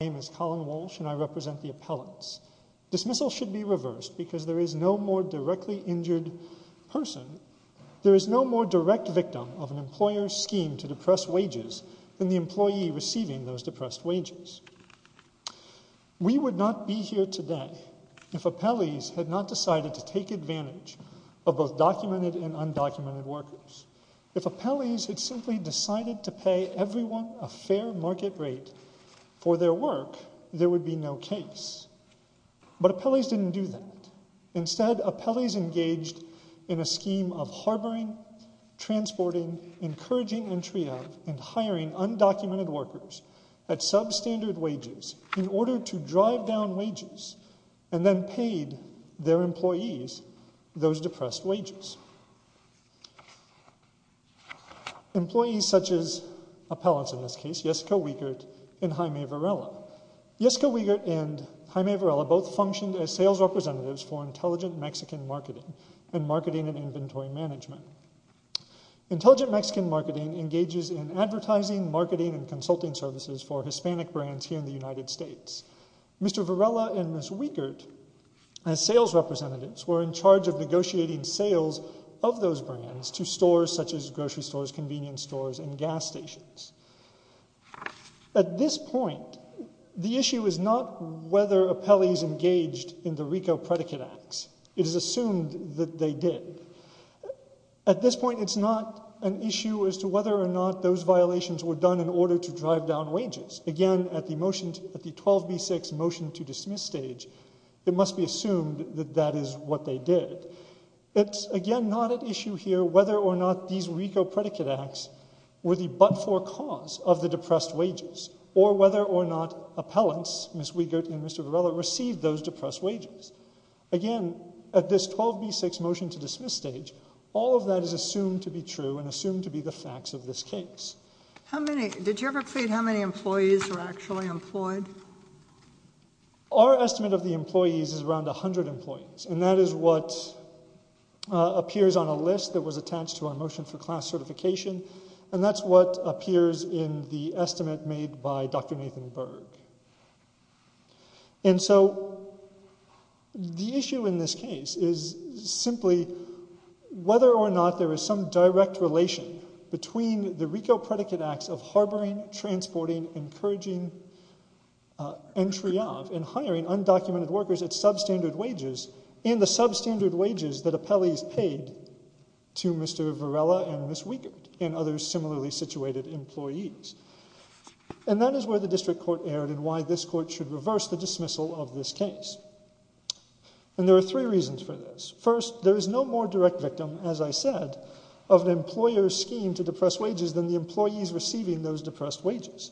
My name is Colin Walsh and I represent the appellants. Dismissal should be reversed because there is no more directly injured person, there is no more direct victim of an employer's scheme to depress wages than the employee receiving those depressed wages. We would not be here today if appellees had not decided to take advantage of both documented and undocumented workers. If appellees had simply decided to pay everyone a fair market rate for their work, there would be no case. But appellees didn't do that. Instead, appellees engaged in a scheme of harboring, transporting, encouraging entry of and hiring undocumented workers at substandard wages in order to drive down wages and then paid their employees those depressed wages. Employees such as appellants in this case, Jesco Wiegert and Jaime Varela. Jesco Wiegert and Jaime Varela both functioned as sales representatives for Intelligent Mexican Marketing and Marketing and Inventory Management. Intelligent Mexican Marketing engages in advertising, marketing, and consulting services for Hispanic brands here in the United States. Mr. Varela and Ms. Wiegert, as sales representatives, were in charge of negotiating sales of those brands to stores such as grocery stores, convenience stores, and gas stations. At this point, the issue is not whether appellees engaged in the RICO predicate acts. It is assumed that they did. At this point, it's not an issue as to whether or not those violations were done in order to drive down wages. Again, at the 12B6 motion to dismiss stage, it must be assumed that that is what they did. It's, again, not an issue here whether or not these RICO predicate acts were the but-for cause of the depressed wages or whether or not appellants, Ms. Wiegert and Mr. Varela, received those depressed wages. Again, at this 12B6 motion to dismiss stage, all of that is assumed to be true and assumed to be the facts of this case. Did you ever plead how many employees were actually employed? Our estimate of the employees is around 100 employees, and that is what appears on a list that was attached to our motion for class certification, and that's what appears in the estimate made by Dr. Nathan Berg. And so the issue in this case is simply whether or not there is some direct relation between the RICO predicate acts of harboring, transporting, encouraging entry of and hiring undocumented workers at substandard wages and the substandard wages that appellees paid to Mr. Varela and Ms. Wiegert and other similarly situated employees. And that is where the district court erred and why this court should reverse the dismissal of this case. And there are three reasons for this. First, there is no more direct victim, as I said, of an employer's scheme to depress wages than the employees receiving those depressed wages.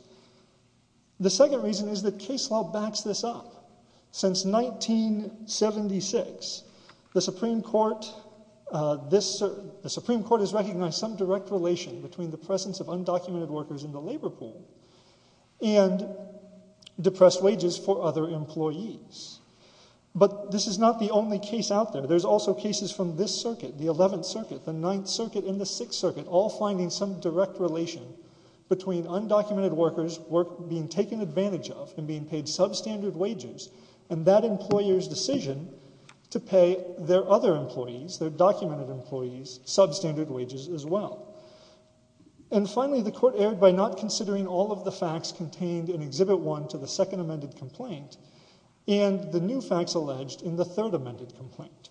The second reason is that case law backs this up. Since 1976, the Supreme Court has recognized some direct relation between the presence of undocumented workers in the labor pool and depressed wages for other employees. But this is not the only case out there. There's also cases from this circuit, the 11th Circuit, the 9th Circuit, and the 6th Circuit, all finding some direct relation between undocumented workers being taken advantage of and being paid substandard wages and that employer's decision to pay their other employees, their documented employees, substandard wages as well. And finally, the court erred by not considering all of the facts contained in Exhibit 1 to the second amended complaint. And the new facts alleged in the third amended complaint.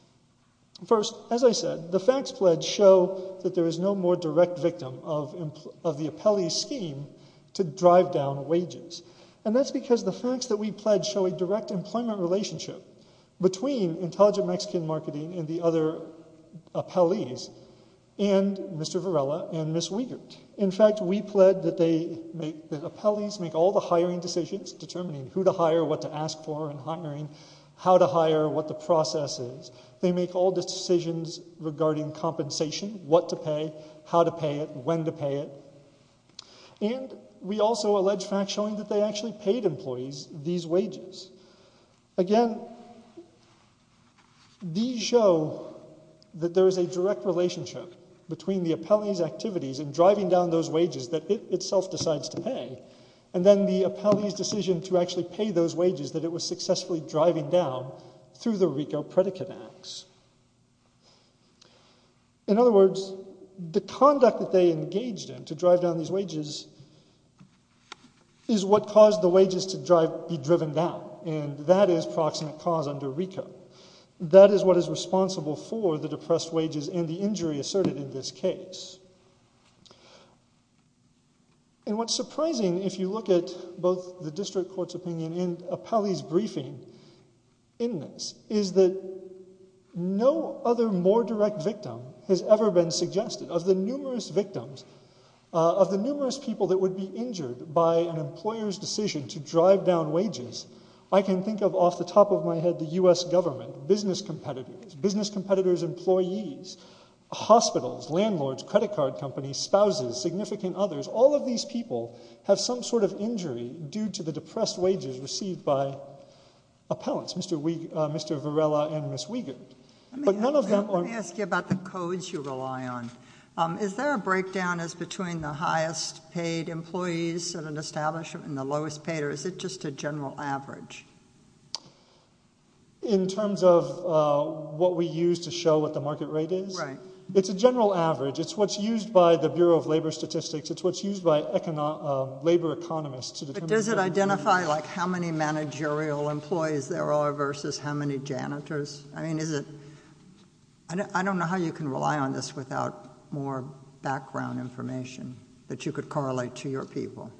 First, as I said, the facts pledged show that there is no more direct victim of the appellee's scheme to drive down wages. And that's because the facts that we pledged show a direct employment relationship between Intelligent Mexican Marketing and the other appellees and Mr. Varela and Ms. Wiegert. In fact, we pledged that the appellees make all the hiring decisions determining who to hire, what to ask for in hiring, how to hire, what the process is. They make all the decisions regarding compensation, what to pay, how to pay it, when to pay it. And we also allege facts showing that they actually paid employees these wages. Again, these show that there is a direct relationship between the appellee's activities in driving down those wages that it itself decides to pay and then the appellee's decision to actually pay those wages that it was successfully driving down through the RICO predicate acts. In other words, the conduct that they engaged in to drive down these wages is what caused the wages to be driven down. And that is proximate cause under RICO. That is what is responsible for the depressed wages and the injury asserted in this case. And what's surprising if you look at both the district court's opinion and appellee's briefing in this is that no other more direct victim has ever been suggested. Of the numerous victims, of the numerous people that would be injured by an employer's decision to drive down wages, I can think of off the top of my head the U.S. government, business competitors, employees, hospitals, landlords, credit card companies, spouses, significant others, all of these people have some sort of injury due to the depressed wages received by appellants, Mr. Varela and Ms. Wiegand. Let me ask you about the codes you rely on. Is there a breakdown as between the highest paid employees in an establishment and the lowest paid, or is it just a general average? In terms of what we use to show what the market rate is? Right. It's a general average. It's what's used by the Bureau of Labor Statistics. It's what's used by labor economists. But does it identify, like, how many managerial employees there are versus how many janitors? I mean, is it? I don't know how you can rely on this without more background information that you could correlate to your people.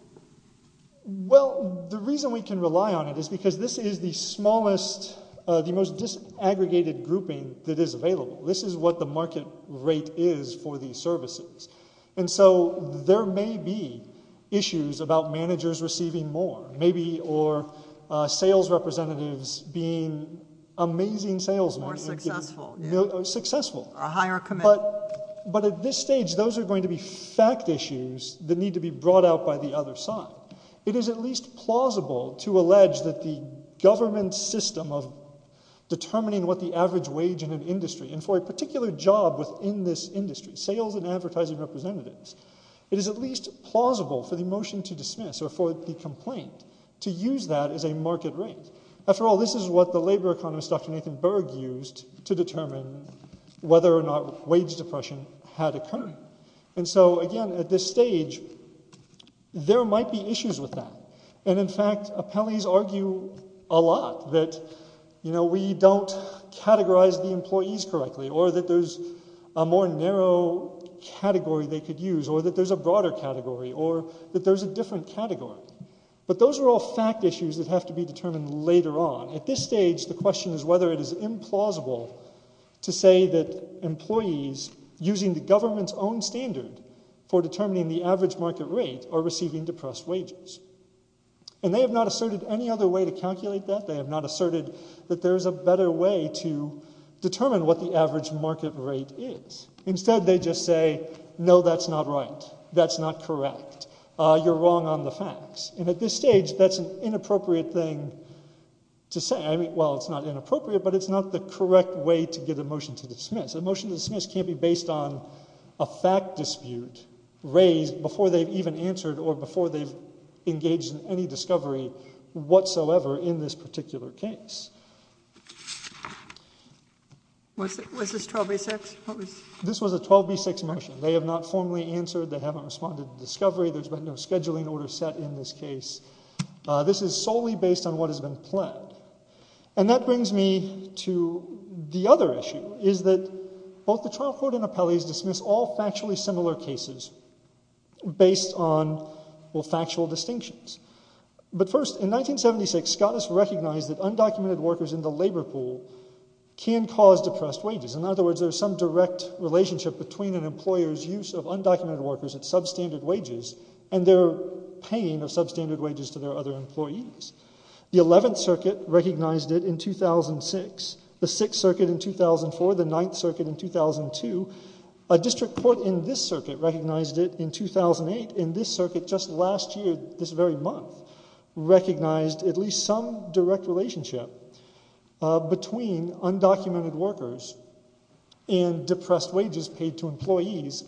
Well, the reason we can rely on it is because this is the smallest, the most disaggregated grouping that is available. This is what the market rate is for these services. And so there may be issues about managers receiving more, maybe, or sales representatives being amazing salesmen. More successful. Successful. A higher commitment. But at this stage, those are going to be fact issues that need to be brought out by the other side. It is at least plausible to allege that the government system of determining what the average wage in an industry, and for a particular job within this industry, sales and advertising representatives, it is at least plausible for the motion to dismiss or for the complaint to use that as a market rate. After all, this is what the labor economist, Dr. Nathan Berg, used to determine whether or not wage depression had occurred. And so, again, at this stage, there might be issues with that. And, in fact, appellees argue a lot that, you know, we don't categorize the employees correctly or that there's a more narrow category they could use or that there's a broader category or that there's a different category. But those are all fact issues that have to be determined later on. At this stage, the question is whether it is implausible to say that employees using the government's own standard for determining the average market rate are receiving depressed wages. And they have not asserted any other way to calculate that. They have not asserted that there is a better way to determine what the average market rate is. Instead, they just say, no, that's not right. That's not correct. You're wrong on the facts. And at this stage, that's an inappropriate thing to say. I mean, well, it's not inappropriate, but it's not the correct way to get a motion to dismiss. A motion to dismiss can't be based on a fact dispute raised before they've even answered or before they've engaged in any discovery whatsoever in this particular case. Was this 12B6? This was a 12B6 motion. They have not formally answered. They haven't responded to the discovery. There's been no scheduling order set in this case. This is solely based on what has been planned. And that brings me to the other issue, is that both the trial court and appellees dismiss all factually similar cases based on factual distinctions. But first, in 1976, Scott has recognized that undocumented workers in the labor pool can cause depressed wages. In other words, there's some direct relationship between an employer's use of undocumented workers at substandard wages and their paying of substandard wages to their other employees. The 11th Circuit recognized it in 2006. The 6th Circuit in 2004. The 9th Circuit in 2002. A district court in this circuit recognized it in 2008. In this circuit, just last year, this very month, recognized at least some direct relationship between undocumented workers and depressed wages paid to employees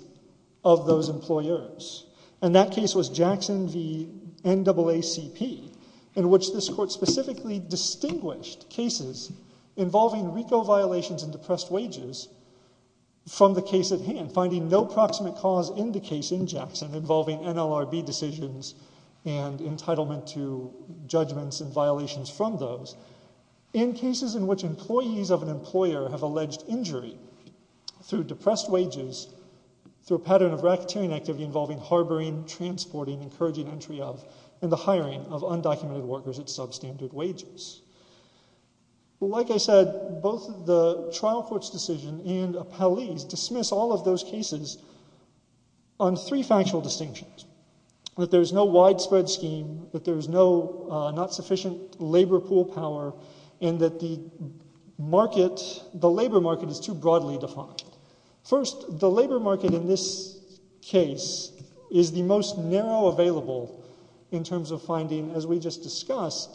of those employers. And that case was Jackson v. NAACP, in which this court specifically distinguished cases involving RICO violations and depressed wages from the case at hand, and finding no proximate cause in the case in Jackson involving NLRB decisions and entitlement to judgments and violations from those, in cases in which employees of an employer have alleged injury through depressed wages through a pattern of racketeering activity involving harboring, transporting, encouraging entry of, and the hiring of undocumented workers at substandard wages. Like I said, both the trial court's decision and Appellee's dismiss all of those cases on three factual distinctions. That there's no widespread scheme, that there's not sufficient labor pool power, and that the labor market is too broadly defined. First, the labor market in this case is the most narrow available in terms of finding, as we just discussed,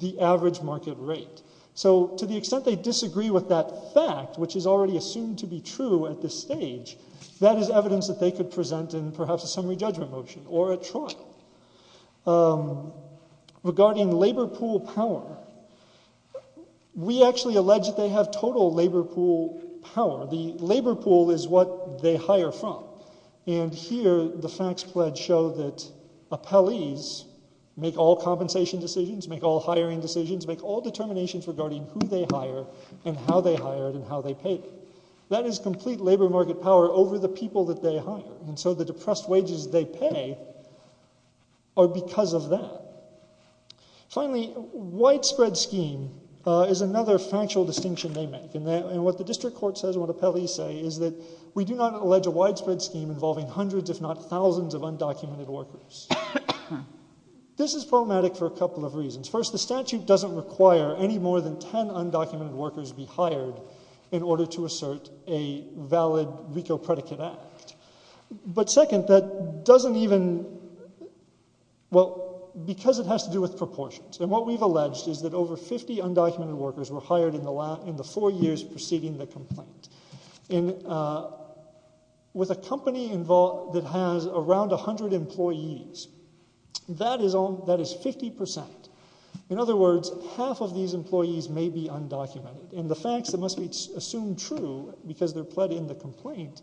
the average market rate. So to the extent they disagree with that fact, which is already assumed to be true at this stage, that is evidence that they could present in perhaps a summary judgment motion or a trial. Regarding labor pool power, we actually allege that they have total labor pool power. The labor pool is what they hire from. And here the facts pledge show that Appellee's make all compensation decisions, make all hiring decisions, make all determinations regarding who they hire, and how they hire it, and how they pay it. That is complete labor market power over the people that they hire. And so the depressed wages they pay are because of that. Finally, widespread scheme is another factual distinction they make. And what the district court says, what Appellee's say, is that we do not allege a widespread scheme involving hundreds if not thousands of undocumented workers. This is problematic for a couple of reasons. First, the statute doesn't require any more than ten undocumented workers be hired in order to assert a valid RICO predicate act. But second, that doesn't even, well, because it has to do with proportions. And what we've alleged is that over 50 undocumented workers were hired in the four years preceding the complaint. And with a company that has around 100 employees, that is 50%. In other words, half of these employees may be undocumented. And the facts that must be assumed true, because they're pled in the complaint,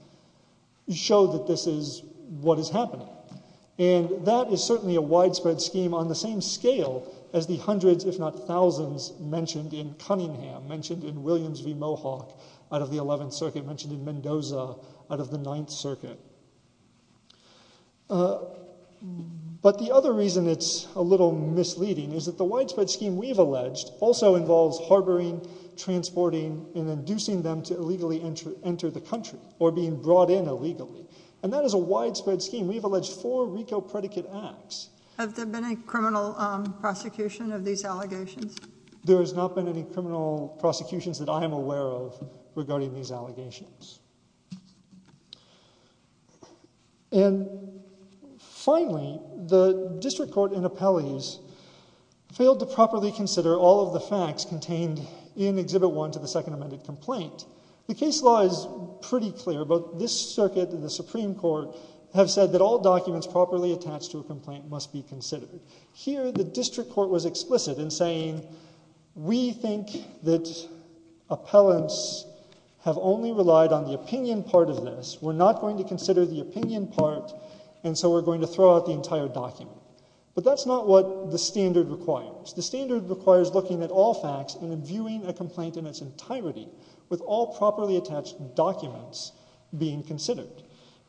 show that this is what is happening. And that is certainly a widespread scheme on the same scale as the hundreds if not thousands mentioned in Cunningham, mentioned in Williams v. Mohawk out of the 11th Circuit, mentioned in Mendoza out of the 9th Circuit. But the other reason it's a little misleading is that the widespread scheme we've alleged also involves harboring, transporting, and inducing them to illegally enter the country, or being brought in illegally. And that is a widespread scheme. We've alleged four RICO predicate acts. Have there been any criminal prosecution of these allegations? There has not been any criminal prosecutions that I am aware of regarding these allegations. And finally, the District Court in Appellees failed to properly consider all of the facts contained in Exhibit 1 to the Second Amended Complaint. The case law is pretty clear, but this Circuit and the Supreme Court have said that all documents properly attached to a complaint must be considered. Here, the District Court was explicit in saying, we think that appellants have only relied on the opinion part of this. We're not going to consider the opinion part, and so we're going to throw out the entire document. But that's not what the standard requires. The standard requires looking at all facts and viewing a complaint in its entirety, with all properly attached documents being considered.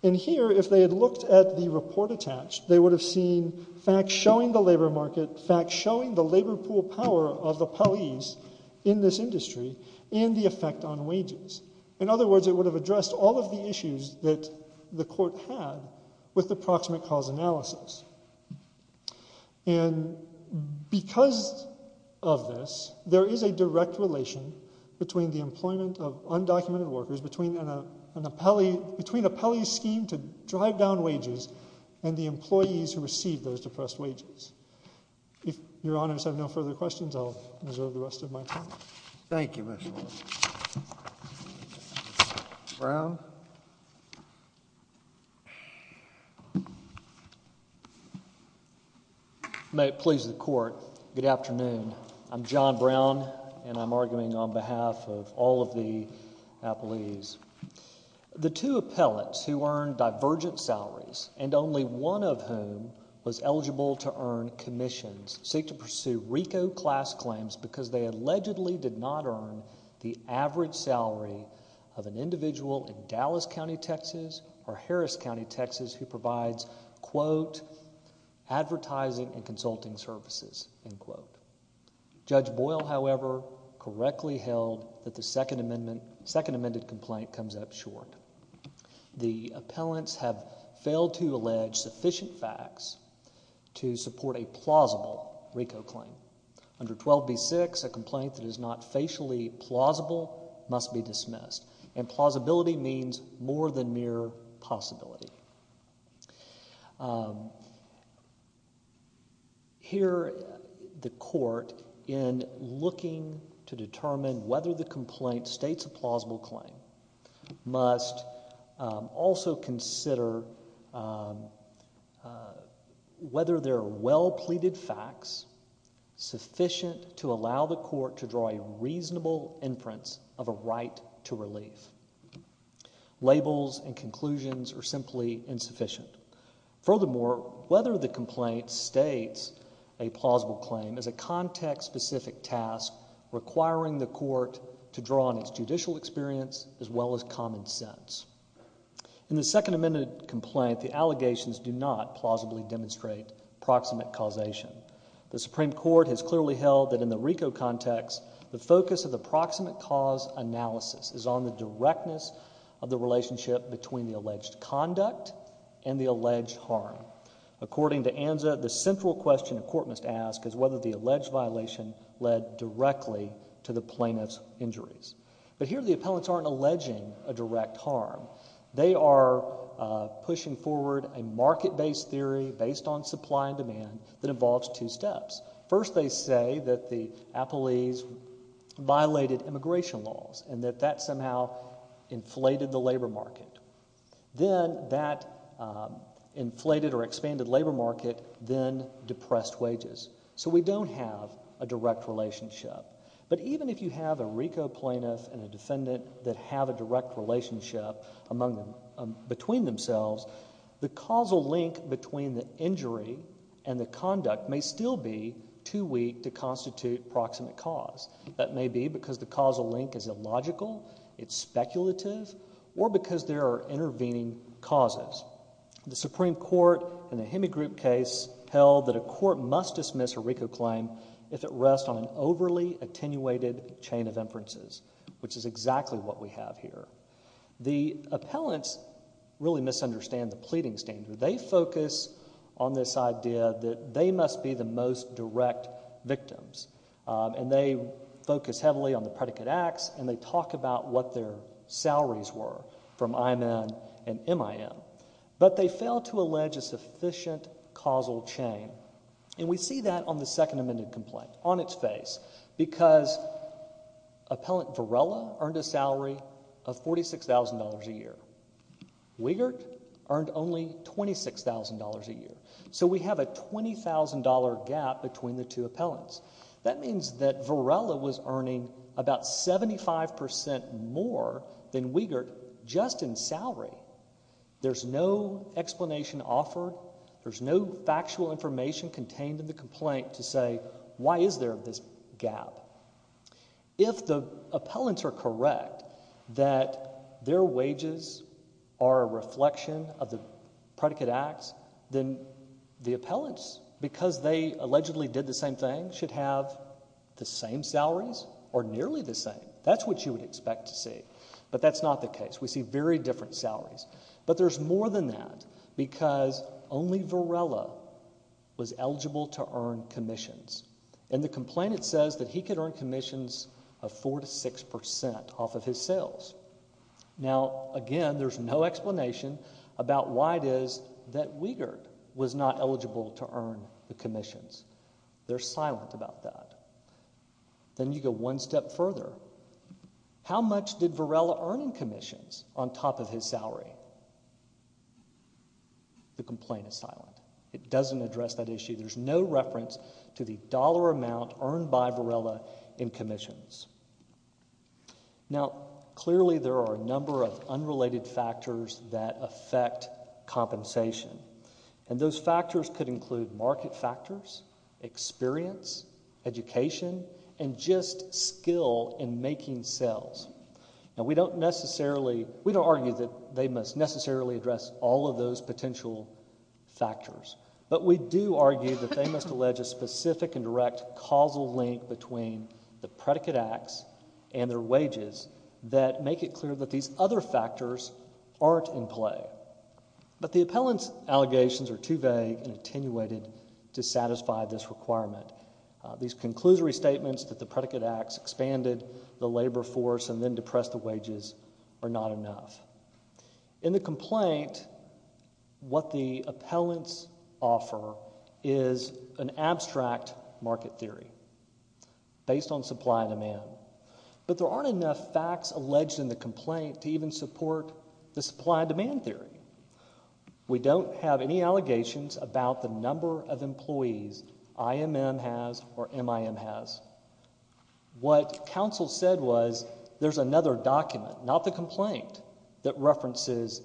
And here, if they had looked at the report attached, they would have seen facts showing the labor market, facts showing the labor pool power of the appellees in this industry, and the effect on wages. In other words, it would have addressed all of the issues that the court had with the proximate cause analysis. And because of this, there is a direct relation between the employment of undocumented workers, between an appellee's scheme to drive down wages, and the employees who receive those depressed wages. If Your Honors have no further questions, I'll reserve the rest of my time. Thank you, Mr. Waller. Brown? May it please the Court, good afternoon. I'm John Brown, and I'm arguing on behalf of all of the appellees. The two appellates who earned divergent salaries, and only one of whom was eligible to earn commissions, seek to pursue RICO class claims because they allegedly did not earn the average salary of an individual in Dallas County, Texas, or Harris County, Texas, who provides, quote, advertising and consulting services, end quote. Judge Boyle, however, correctly held that the Second Amendment complaint comes up short. The appellants have failed to allege sufficient facts to support a plausible RICO claim. Under 12b-6, a complaint that is not facially plausible must be dismissed, and plausibility means more than mere possibility. Here, the Court, in looking to determine whether the complaint states a plausible claim, must also consider whether there are well-pleaded facts sufficient to allow the Court to draw a reasonable inference of a right to relief. Labels and conclusions are simply insufficient. Furthermore, whether the complaint states a plausible claim is a context-specific task requiring the Court to draw on its judicial experience as well as common sense. In the Second Amendment complaint, the allegations do not plausibly demonstrate proximate causation. The Supreme Court has clearly held that in the RICO context, the focus of the proximate cause analysis is on the directness of the relationship between the alleged conduct and the alleged harm. According to Anza, the central question a court must ask is whether the alleged violation led directly to the plaintiff's injuries. But here, the appellants aren't alleging a direct harm. They are pushing forward a market-based theory based on supply and demand that involves two steps. First, they say that the appellees violated immigration laws and that that somehow inflated the labor market. Then, that inflated or expanded labor market then depressed wages. So we don't have a direct relationship. But even if you have a RICO plaintiff and a defendant that have a direct relationship between themselves, the causal link between the injury and the conduct may still be too weak to constitute proximate cause. That may be because the causal link is illogical, it's speculative, or because there are intervening causes. The Supreme Court in the Hemigroup case held that a court must dismiss a RICO claim if it rests on an overly attenuated chain of inferences, which is exactly what we have here. The appellants really misunderstand the pleading standard. They focus on this idea that they must be the most direct victims. And they focus heavily on the predicate acts, and they talk about what their salaries were from IMN and MIM. But they fail to allege a sufficient causal chain. And we see that on the Second Amendment complaint, on its face, because appellant Varela earned a salary of $46,000 a year. Weigert earned only $26,000 a year. So we have a $20,000 gap between the two appellants. That means that Varela was earning about 75% more than Weigert just in salary. There's no explanation offered. There's no factual information contained in the complaint to say why is there this gap. If the appellants are correct that their wages are a reflection of the predicate acts, then the appellants, because they allegedly did the same thing, should have the same salaries or nearly the same. That's what you would expect to see. But that's not the case. We see very different salaries. But there's more than that because only Varela was eligible to earn commissions. In the complaint it says that he could earn commissions of 4% to 6% off of his sales. Now, again, there's no explanation about why it is that Weigert was not eligible to earn the commissions. They're silent about that. Then you go one step further. How much did Varela earn in commissions on top of his salary? The complaint is silent. It doesn't address that issue. There's no reference to the dollar amount earned by Varela in commissions. Now, clearly there are a number of unrelated factors that affect compensation. And those factors could include market factors, experience, education, and just skill in making sales. Now, we don't necessarily argue that they must necessarily address all of those potential factors. But we do argue that they must allege a specific and direct causal link between the predicate acts and their wages that make it clear that these other factors aren't in play. But the appellant's allegations are too vague and attenuated to satisfy this requirement. These conclusory statements that the predicate acts expanded the labor force and then depressed the wages are not enough. In the complaint, what the appellants offer is an abstract market theory based on supply and demand. But there aren't enough facts alleged in the complaint to even support the supply and demand theory. We don't have any allegations about the number of employees IMM has or MIM has. What counsel said was there's another document, not the complaint, that references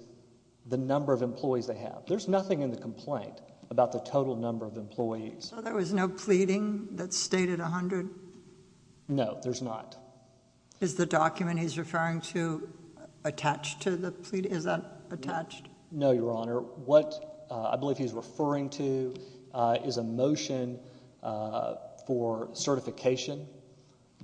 the number of employees they have. There's nothing in the complaint about the total number of employees. So there was no pleading that stated 100? No, there's not. Is the document he's referring to attached to the pleading? Is that attached? No, Your Honor. What I believe he's referring to is a motion for certification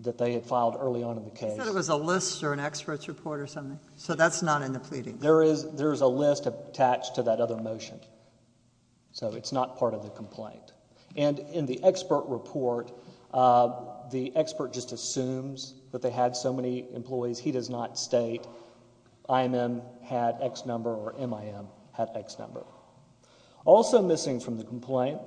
that they had filed early on in the case. He said it was a list or an expert's report or something. So that's not in the pleading. There is a list attached to that other motion. So it's not part of the complaint. And in the expert report, the expert just assumes that they had so many employees. He does not state IMM had X number or MIM had X number. Also missing from the complaint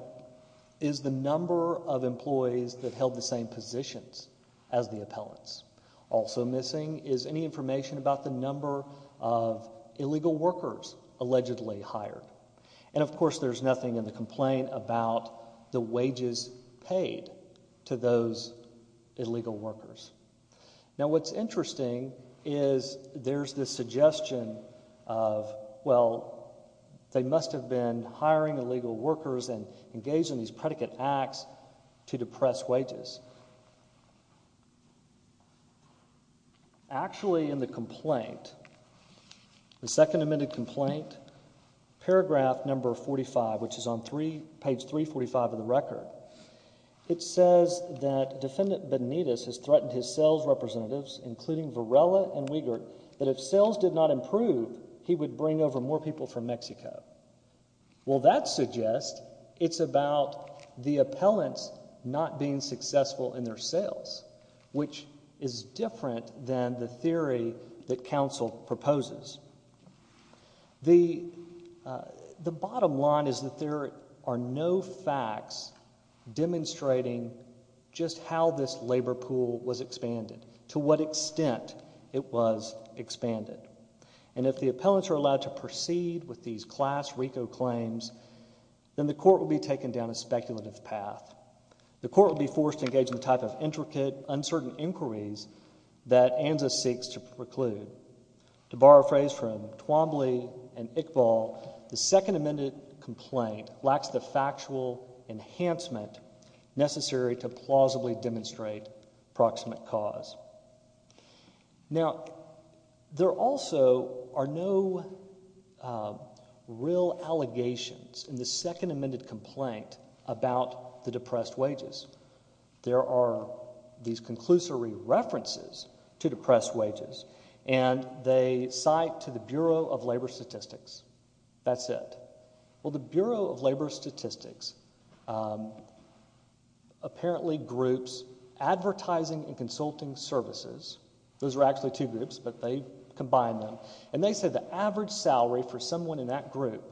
is the number of employees that held the same positions as the appellants. Also missing is any information about the number of illegal workers allegedly hired. And, of course, there's nothing in the complaint about the wages paid to those illegal workers. Now, what's interesting is there's this suggestion of, well, they must have been hiring illegal workers and engaged in these predicate acts to depress wages. Actually, in the complaint, the second amended complaint, paragraph number 45, which is on page 345 of the record, it says that Defendant Benitez has threatened his sales representatives, including Varela and Wiegert, that if sales did not improve, he would bring over more people from Mexico. Well, that suggests it's about the appellants not being successful in their sales, which is different than the theory that counsel proposes. The bottom line is that there are no facts demonstrating just how this labor pool was expanded, to what extent it was expanded. And if the appellants are allowed to proceed with these class RICO claims, then the court will be taken down a speculative path. The court will be forced to engage in the type of intricate, uncertain inquiries that ANZUS seeks to preclude. To borrow a phrase from Twombly and Iqbal, the second amended complaint lacks the factual enhancement necessary to plausibly demonstrate proximate cause. Now, there also are no real allegations in the second amended complaint about the depressed wages. There are these conclusory references to depressed wages, and they cite to the Bureau of Labor Statistics. That's it. Well, the Bureau of Labor Statistics apparently groups advertising and consulting services. Those are actually two groups, but they combine them. And they said the average salary for someone in that group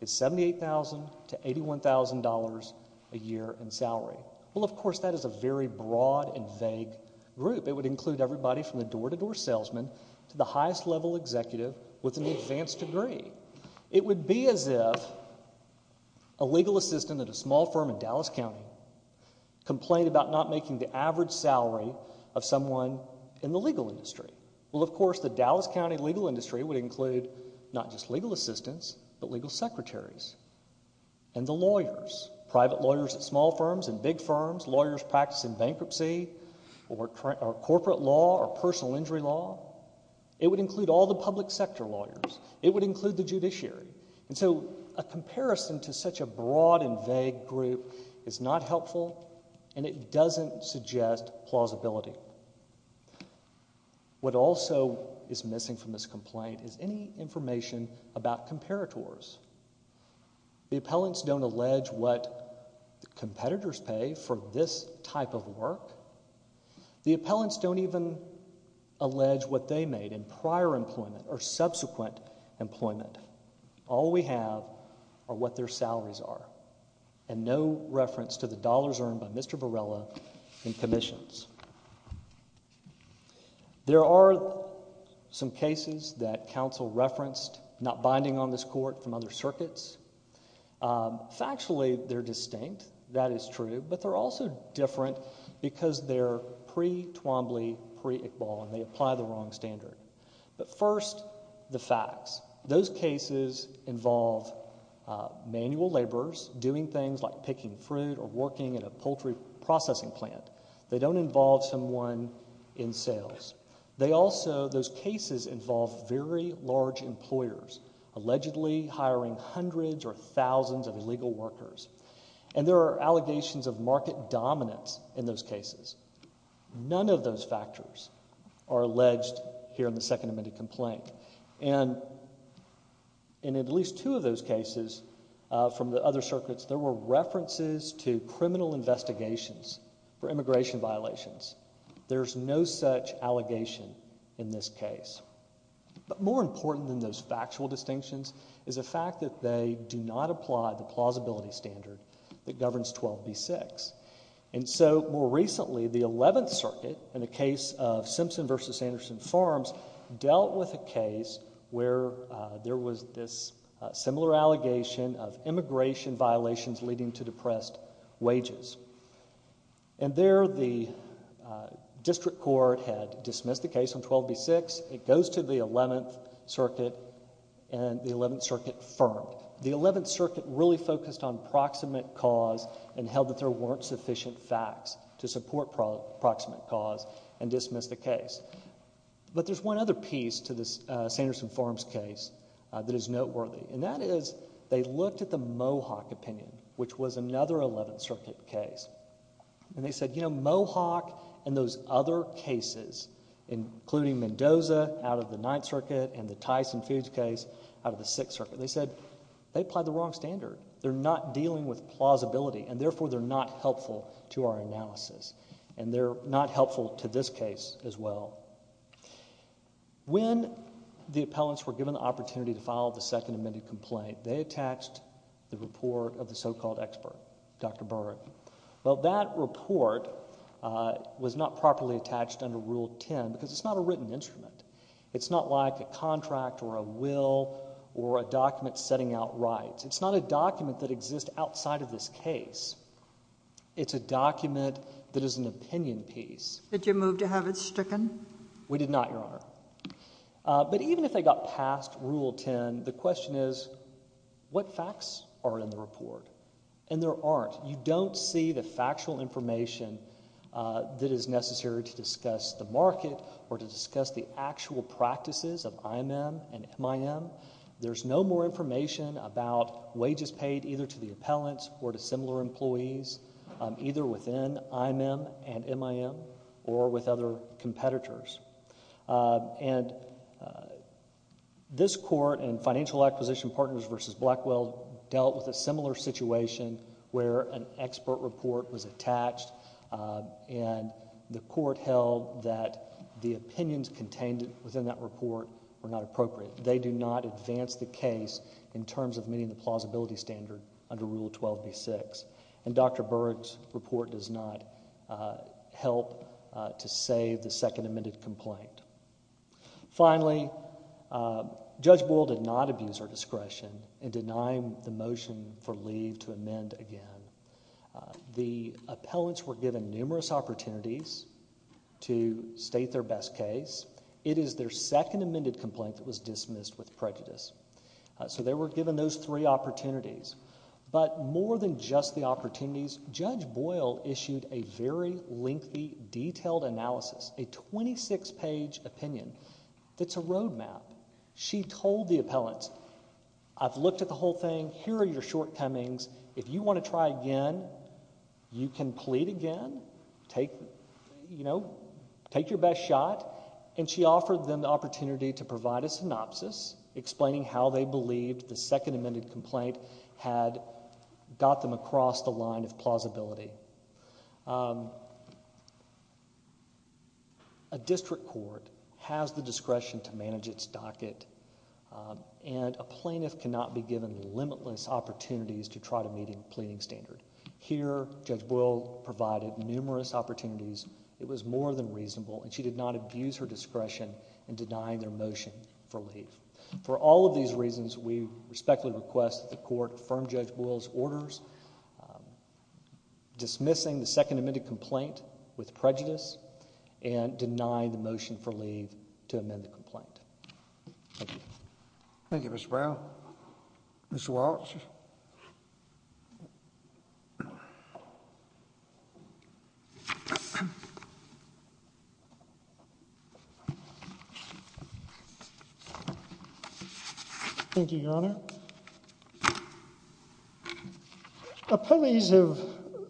is $78,000 to $81,000 a year in salary. Well, of course, that is a very broad and vague group. It would include everybody from the door-to-door salesman to the highest level executive with an advanced degree. It would be as if a legal assistant at a small firm in Dallas County complained about not making the average salary of someone in the legal industry. Well, of course, the Dallas County legal industry would include not just legal assistants, but legal secretaries and the lawyers, private lawyers at small firms and big firms, lawyers practicing bankruptcy or corporate law or personal injury law. It would include all the public sector lawyers. It would include the judiciary. And so a comparison to such a broad and vague group is not helpful, and it doesn't suggest plausibility. What also is missing from this complaint is any information about comparators. The appellants don't allege what competitors pay for this type of work. The appellants don't even allege what they made in prior employment or subsequent employment. All we have are what their salaries are, and no reference to the dollars earned by Mr. Varela in commissions. There are some cases that counsel referenced not binding on this court from other circuits. Factually, they're distinct. That is true, but they're also different because they're pre-Twombly, pre-Iqbal, and they apply the wrong standard. But first, the facts. Those cases involve manual laborers doing things like picking fruit or working at a poultry processing plant. They don't involve someone in sales. Those cases involve very large employers allegedly hiring hundreds or thousands of illegal workers. And there are allegations of market dominance in those cases. None of those factors are alleged here in the second amended complaint. And in at least two of those cases from the other circuits, there were references to criminal investigations for immigration violations. There's no such allegation in this case. But more important than those factual distinctions is the fact that they do not apply the plausibility standard that governs 12b-6. And so, more recently, the 11th circuit, in the case of Simpson v. Sanderson Farms, dealt with a case where there was this similar allegation of immigration violations leading to depressed wages. And there, the district court had dismissed the case on 12b-6. It goes to the 11th circuit and the 11th circuit firm. The 11th circuit really focused on proximate cause and held that there weren't sufficient facts to support proximate cause and dismiss the case. But there's one other piece to this Sanderson Farms case that is noteworthy. And that is they looked at the Mohawk opinion, which was another 11th circuit case. And they said, you know, Mohawk and those other cases, including Mendoza out of the 9th circuit and the Tyson Fuge case out of the 6th circuit, they said they applied the wrong standard. They're not dealing with plausibility, and therefore they're not helpful to our analysis. And they're not helpful to this case as well. When the appellants were given the opportunity to file the second amended complaint, they attached the report of the so-called expert, Dr. Berg. Well, that report was not properly attached under Rule 10 because it's not a written instrument. It's not like a contract or a will or a document setting out rights. It's not a document that exists outside of this case. It's a document that is an opinion piece. Did you move to have it stricken? We did not, Your Honor. But even if they got past Rule 10, the question is, what facts are in the report? And there aren't. You don't see the factual information that is necessary to discuss the market or to discuss the actual practices of IMM and MIM. There's no more information about wages paid either to the appellants or to similar employees either within IMM and MIM or with other competitors. And this court in Financial Acquisition Partners v. Blackwell dealt with a similar situation where an expert report was attached, and the court held that the opinions contained within that report were not appropriate. They do not advance the case in terms of meeting the plausibility standard under Rule 12b-6. And Dr. Berg's report does not help to save the second amended complaint. Finally, Judge Boyle did not abuse our discretion in denying the motion for leave to amend again. The appellants were given numerous opportunities to state their best case. It is their second amended complaint that was dismissed with prejudice. So they were given those three opportunities. But more than just the opportunities, Judge Boyle issued a very lengthy, detailed analysis, a 26-page opinion that's a road map. She told the appellants, I've looked at the whole thing. Here are your shortcomings. If you want to try again, you can plead again. Take, you know, take your best shot. And she offered them the opportunity to provide a synopsis explaining how they believed the second amended complaint had got them across the line of plausibility. A district court has the discretion to manage its docket. And a plaintiff cannot be given limitless opportunities to try to meet a pleading standard. Here, Judge Boyle provided numerous opportunities. It was more than reasonable. And she did not abuse her discretion in denying their motion for leave. For all of these reasons, we respectfully request that the court confirm Judge Boyle's orders dismissing the second amended complaint with prejudice and denying the motion for leave to amend the complaint. Thank you. Thank you, Mr. Brown. Mr. Walts. Thank you, Your Honor. Appellees have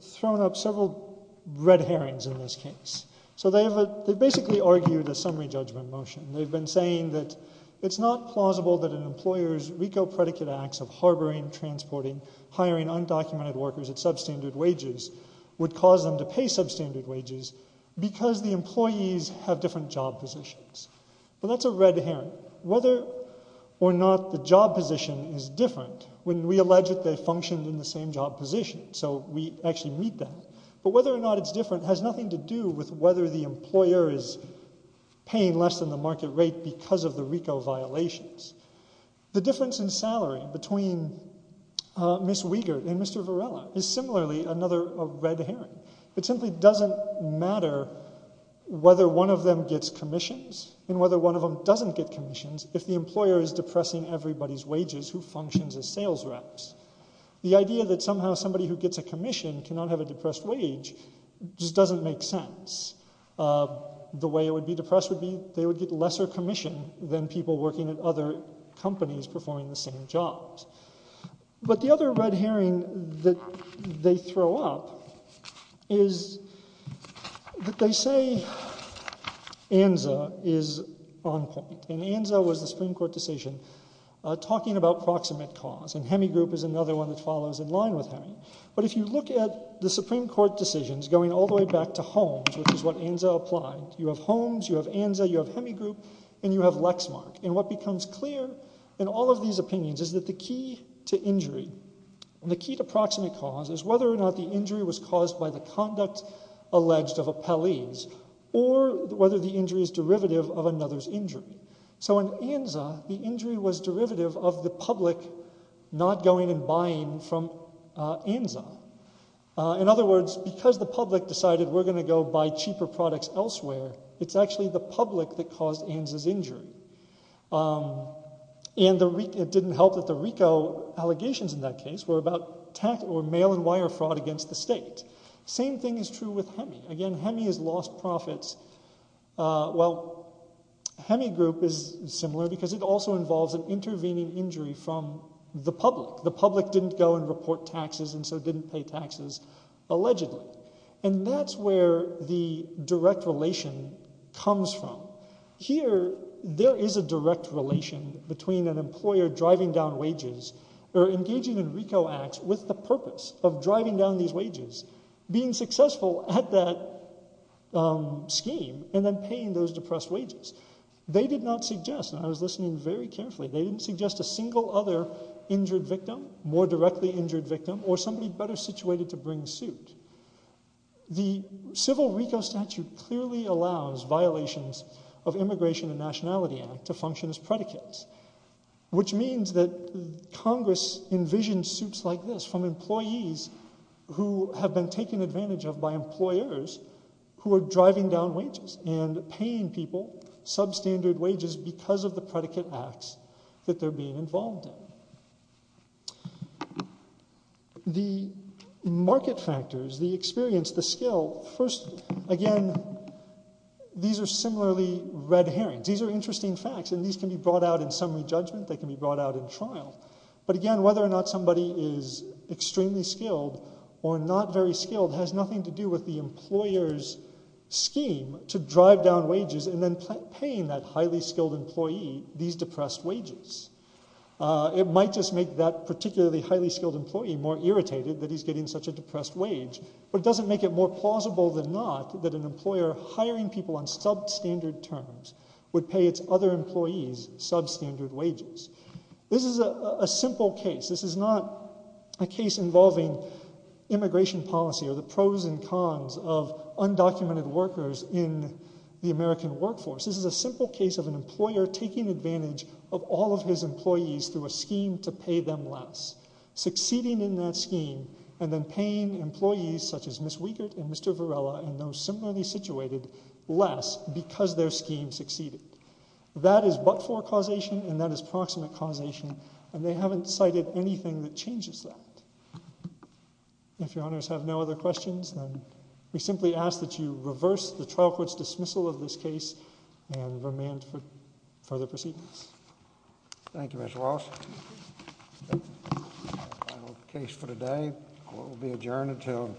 thrown up several red herrings in this case. So they basically argued a summary judgment motion. They've been saying that it's not plausible that an employer's RICO predicate acts of harboring, transporting, hiring undocumented workers at substandard wages would cause them to pay substandard wages because the employees have different job positions. Well, that's a red herring. Whether or not the job position is different, when we allege that they function in the same job position, so we actually meet that. But whether or not it's different has nothing to do with whether the employer is paying less than the market rate because of the RICO violations. The difference in salary between Ms. Wiegert and Mr. Varela is similarly another red herring. It simply doesn't matter whether one of them gets commissions and whether one of them doesn't get commissions if the employer is depressing everybody's wages who functions as sales reps. The idea that somehow somebody who gets a commission cannot have a depressed wage just doesn't make sense. The way it would be depressed would be they would get lesser commission than people working at other companies performing the same jobs. But the other red herring that they throw up is that they say ANZA is on point. And ANZA was the Supreme Court decision talking about proximate cause, and Hemigroup is another one that follows in line with Hemigroup. But if you look at the Supreme Court decisions going all the way back to Holmes, which is what ANZA applied, you have Holmes, you have ANZA, you have Hemigroup, and you have Lexmark. And what becomes clear in all of these opinions is that the key to injury, the key to proximate cause, is whether or not the injury was caused by the conduct alleged of appellees or whether the injury is derivative of another's injury. So in ANZA, the injury was derivative of the public not going and buying from ANZA. In other words, because the public decided we're going to go buy cheaper products elsewhere, it's actually the public that caused ANZA's injury. And it didn't help that the RICO allegations in that case were about mail and wire fraud against the state. Same thing is true with HEMI. Again, HEMI has lost profits. Well, Hemigroup is similar because it also involves an intervening injury from the public. The public didn't go and report taxes and so didn't pay taxes allegedly. And that's where the direct relation comes from. Here, there is a direct relation between an employer driving down wages or engaging in RICO acts with the purpose of driving down these wages, being successful at that scheme, and then paying those depressed wages. They did not suggest, and I was listening very carefully, they didn't suggest a single other injured victim, more directly injured victim, or somebody better situated to bring suit. The civil RICO statute clearly allows violations of Immigration and Nationality Act to function as predicates. Which means that Congress envisioned suits like this from employees who have been taken advantage of by employers who are driving down wages and paying people substandard wages because of the predicate acts that they're being involved in. The market factors, the experience, the skill, first, again, these are similarly red herrings. These are interesting facts and these can be brought out in summary judgment, they can be brought out in trial. But again, whether or not somebody is extremely skilled or not very skilled has nothing to do with the employer's scheme to drive down wages and then paying that highly skilled employee these depressed wages. It might just make that particularly highly skilled employee more irritated that he's getting such a depressed wage, but it doesn't make it more plausible than not that an employer hiring people on substandard terms would pay its other employees substandard wages. This is a simple case. This is not a case involving immigration policy or the pros and cons of undocumented workers in the American workforce. This is a simple case of an employer taking advantage of all of his employees through a scheme to pay them less. Succeeding in that scheme and then paying employees such as Ms. Wiegert and Mr. Varela and those similarly situated less because their scheme succeeded. That is but-for causation and that is proximate causation and they haven't cited anything that changes that. If your honors have no other questions, then we simply ask that you reverse the trial court's dismissal of this case and remand for further proceedings. Thank you, Mr. Walsh. Case for today will be adjourned until.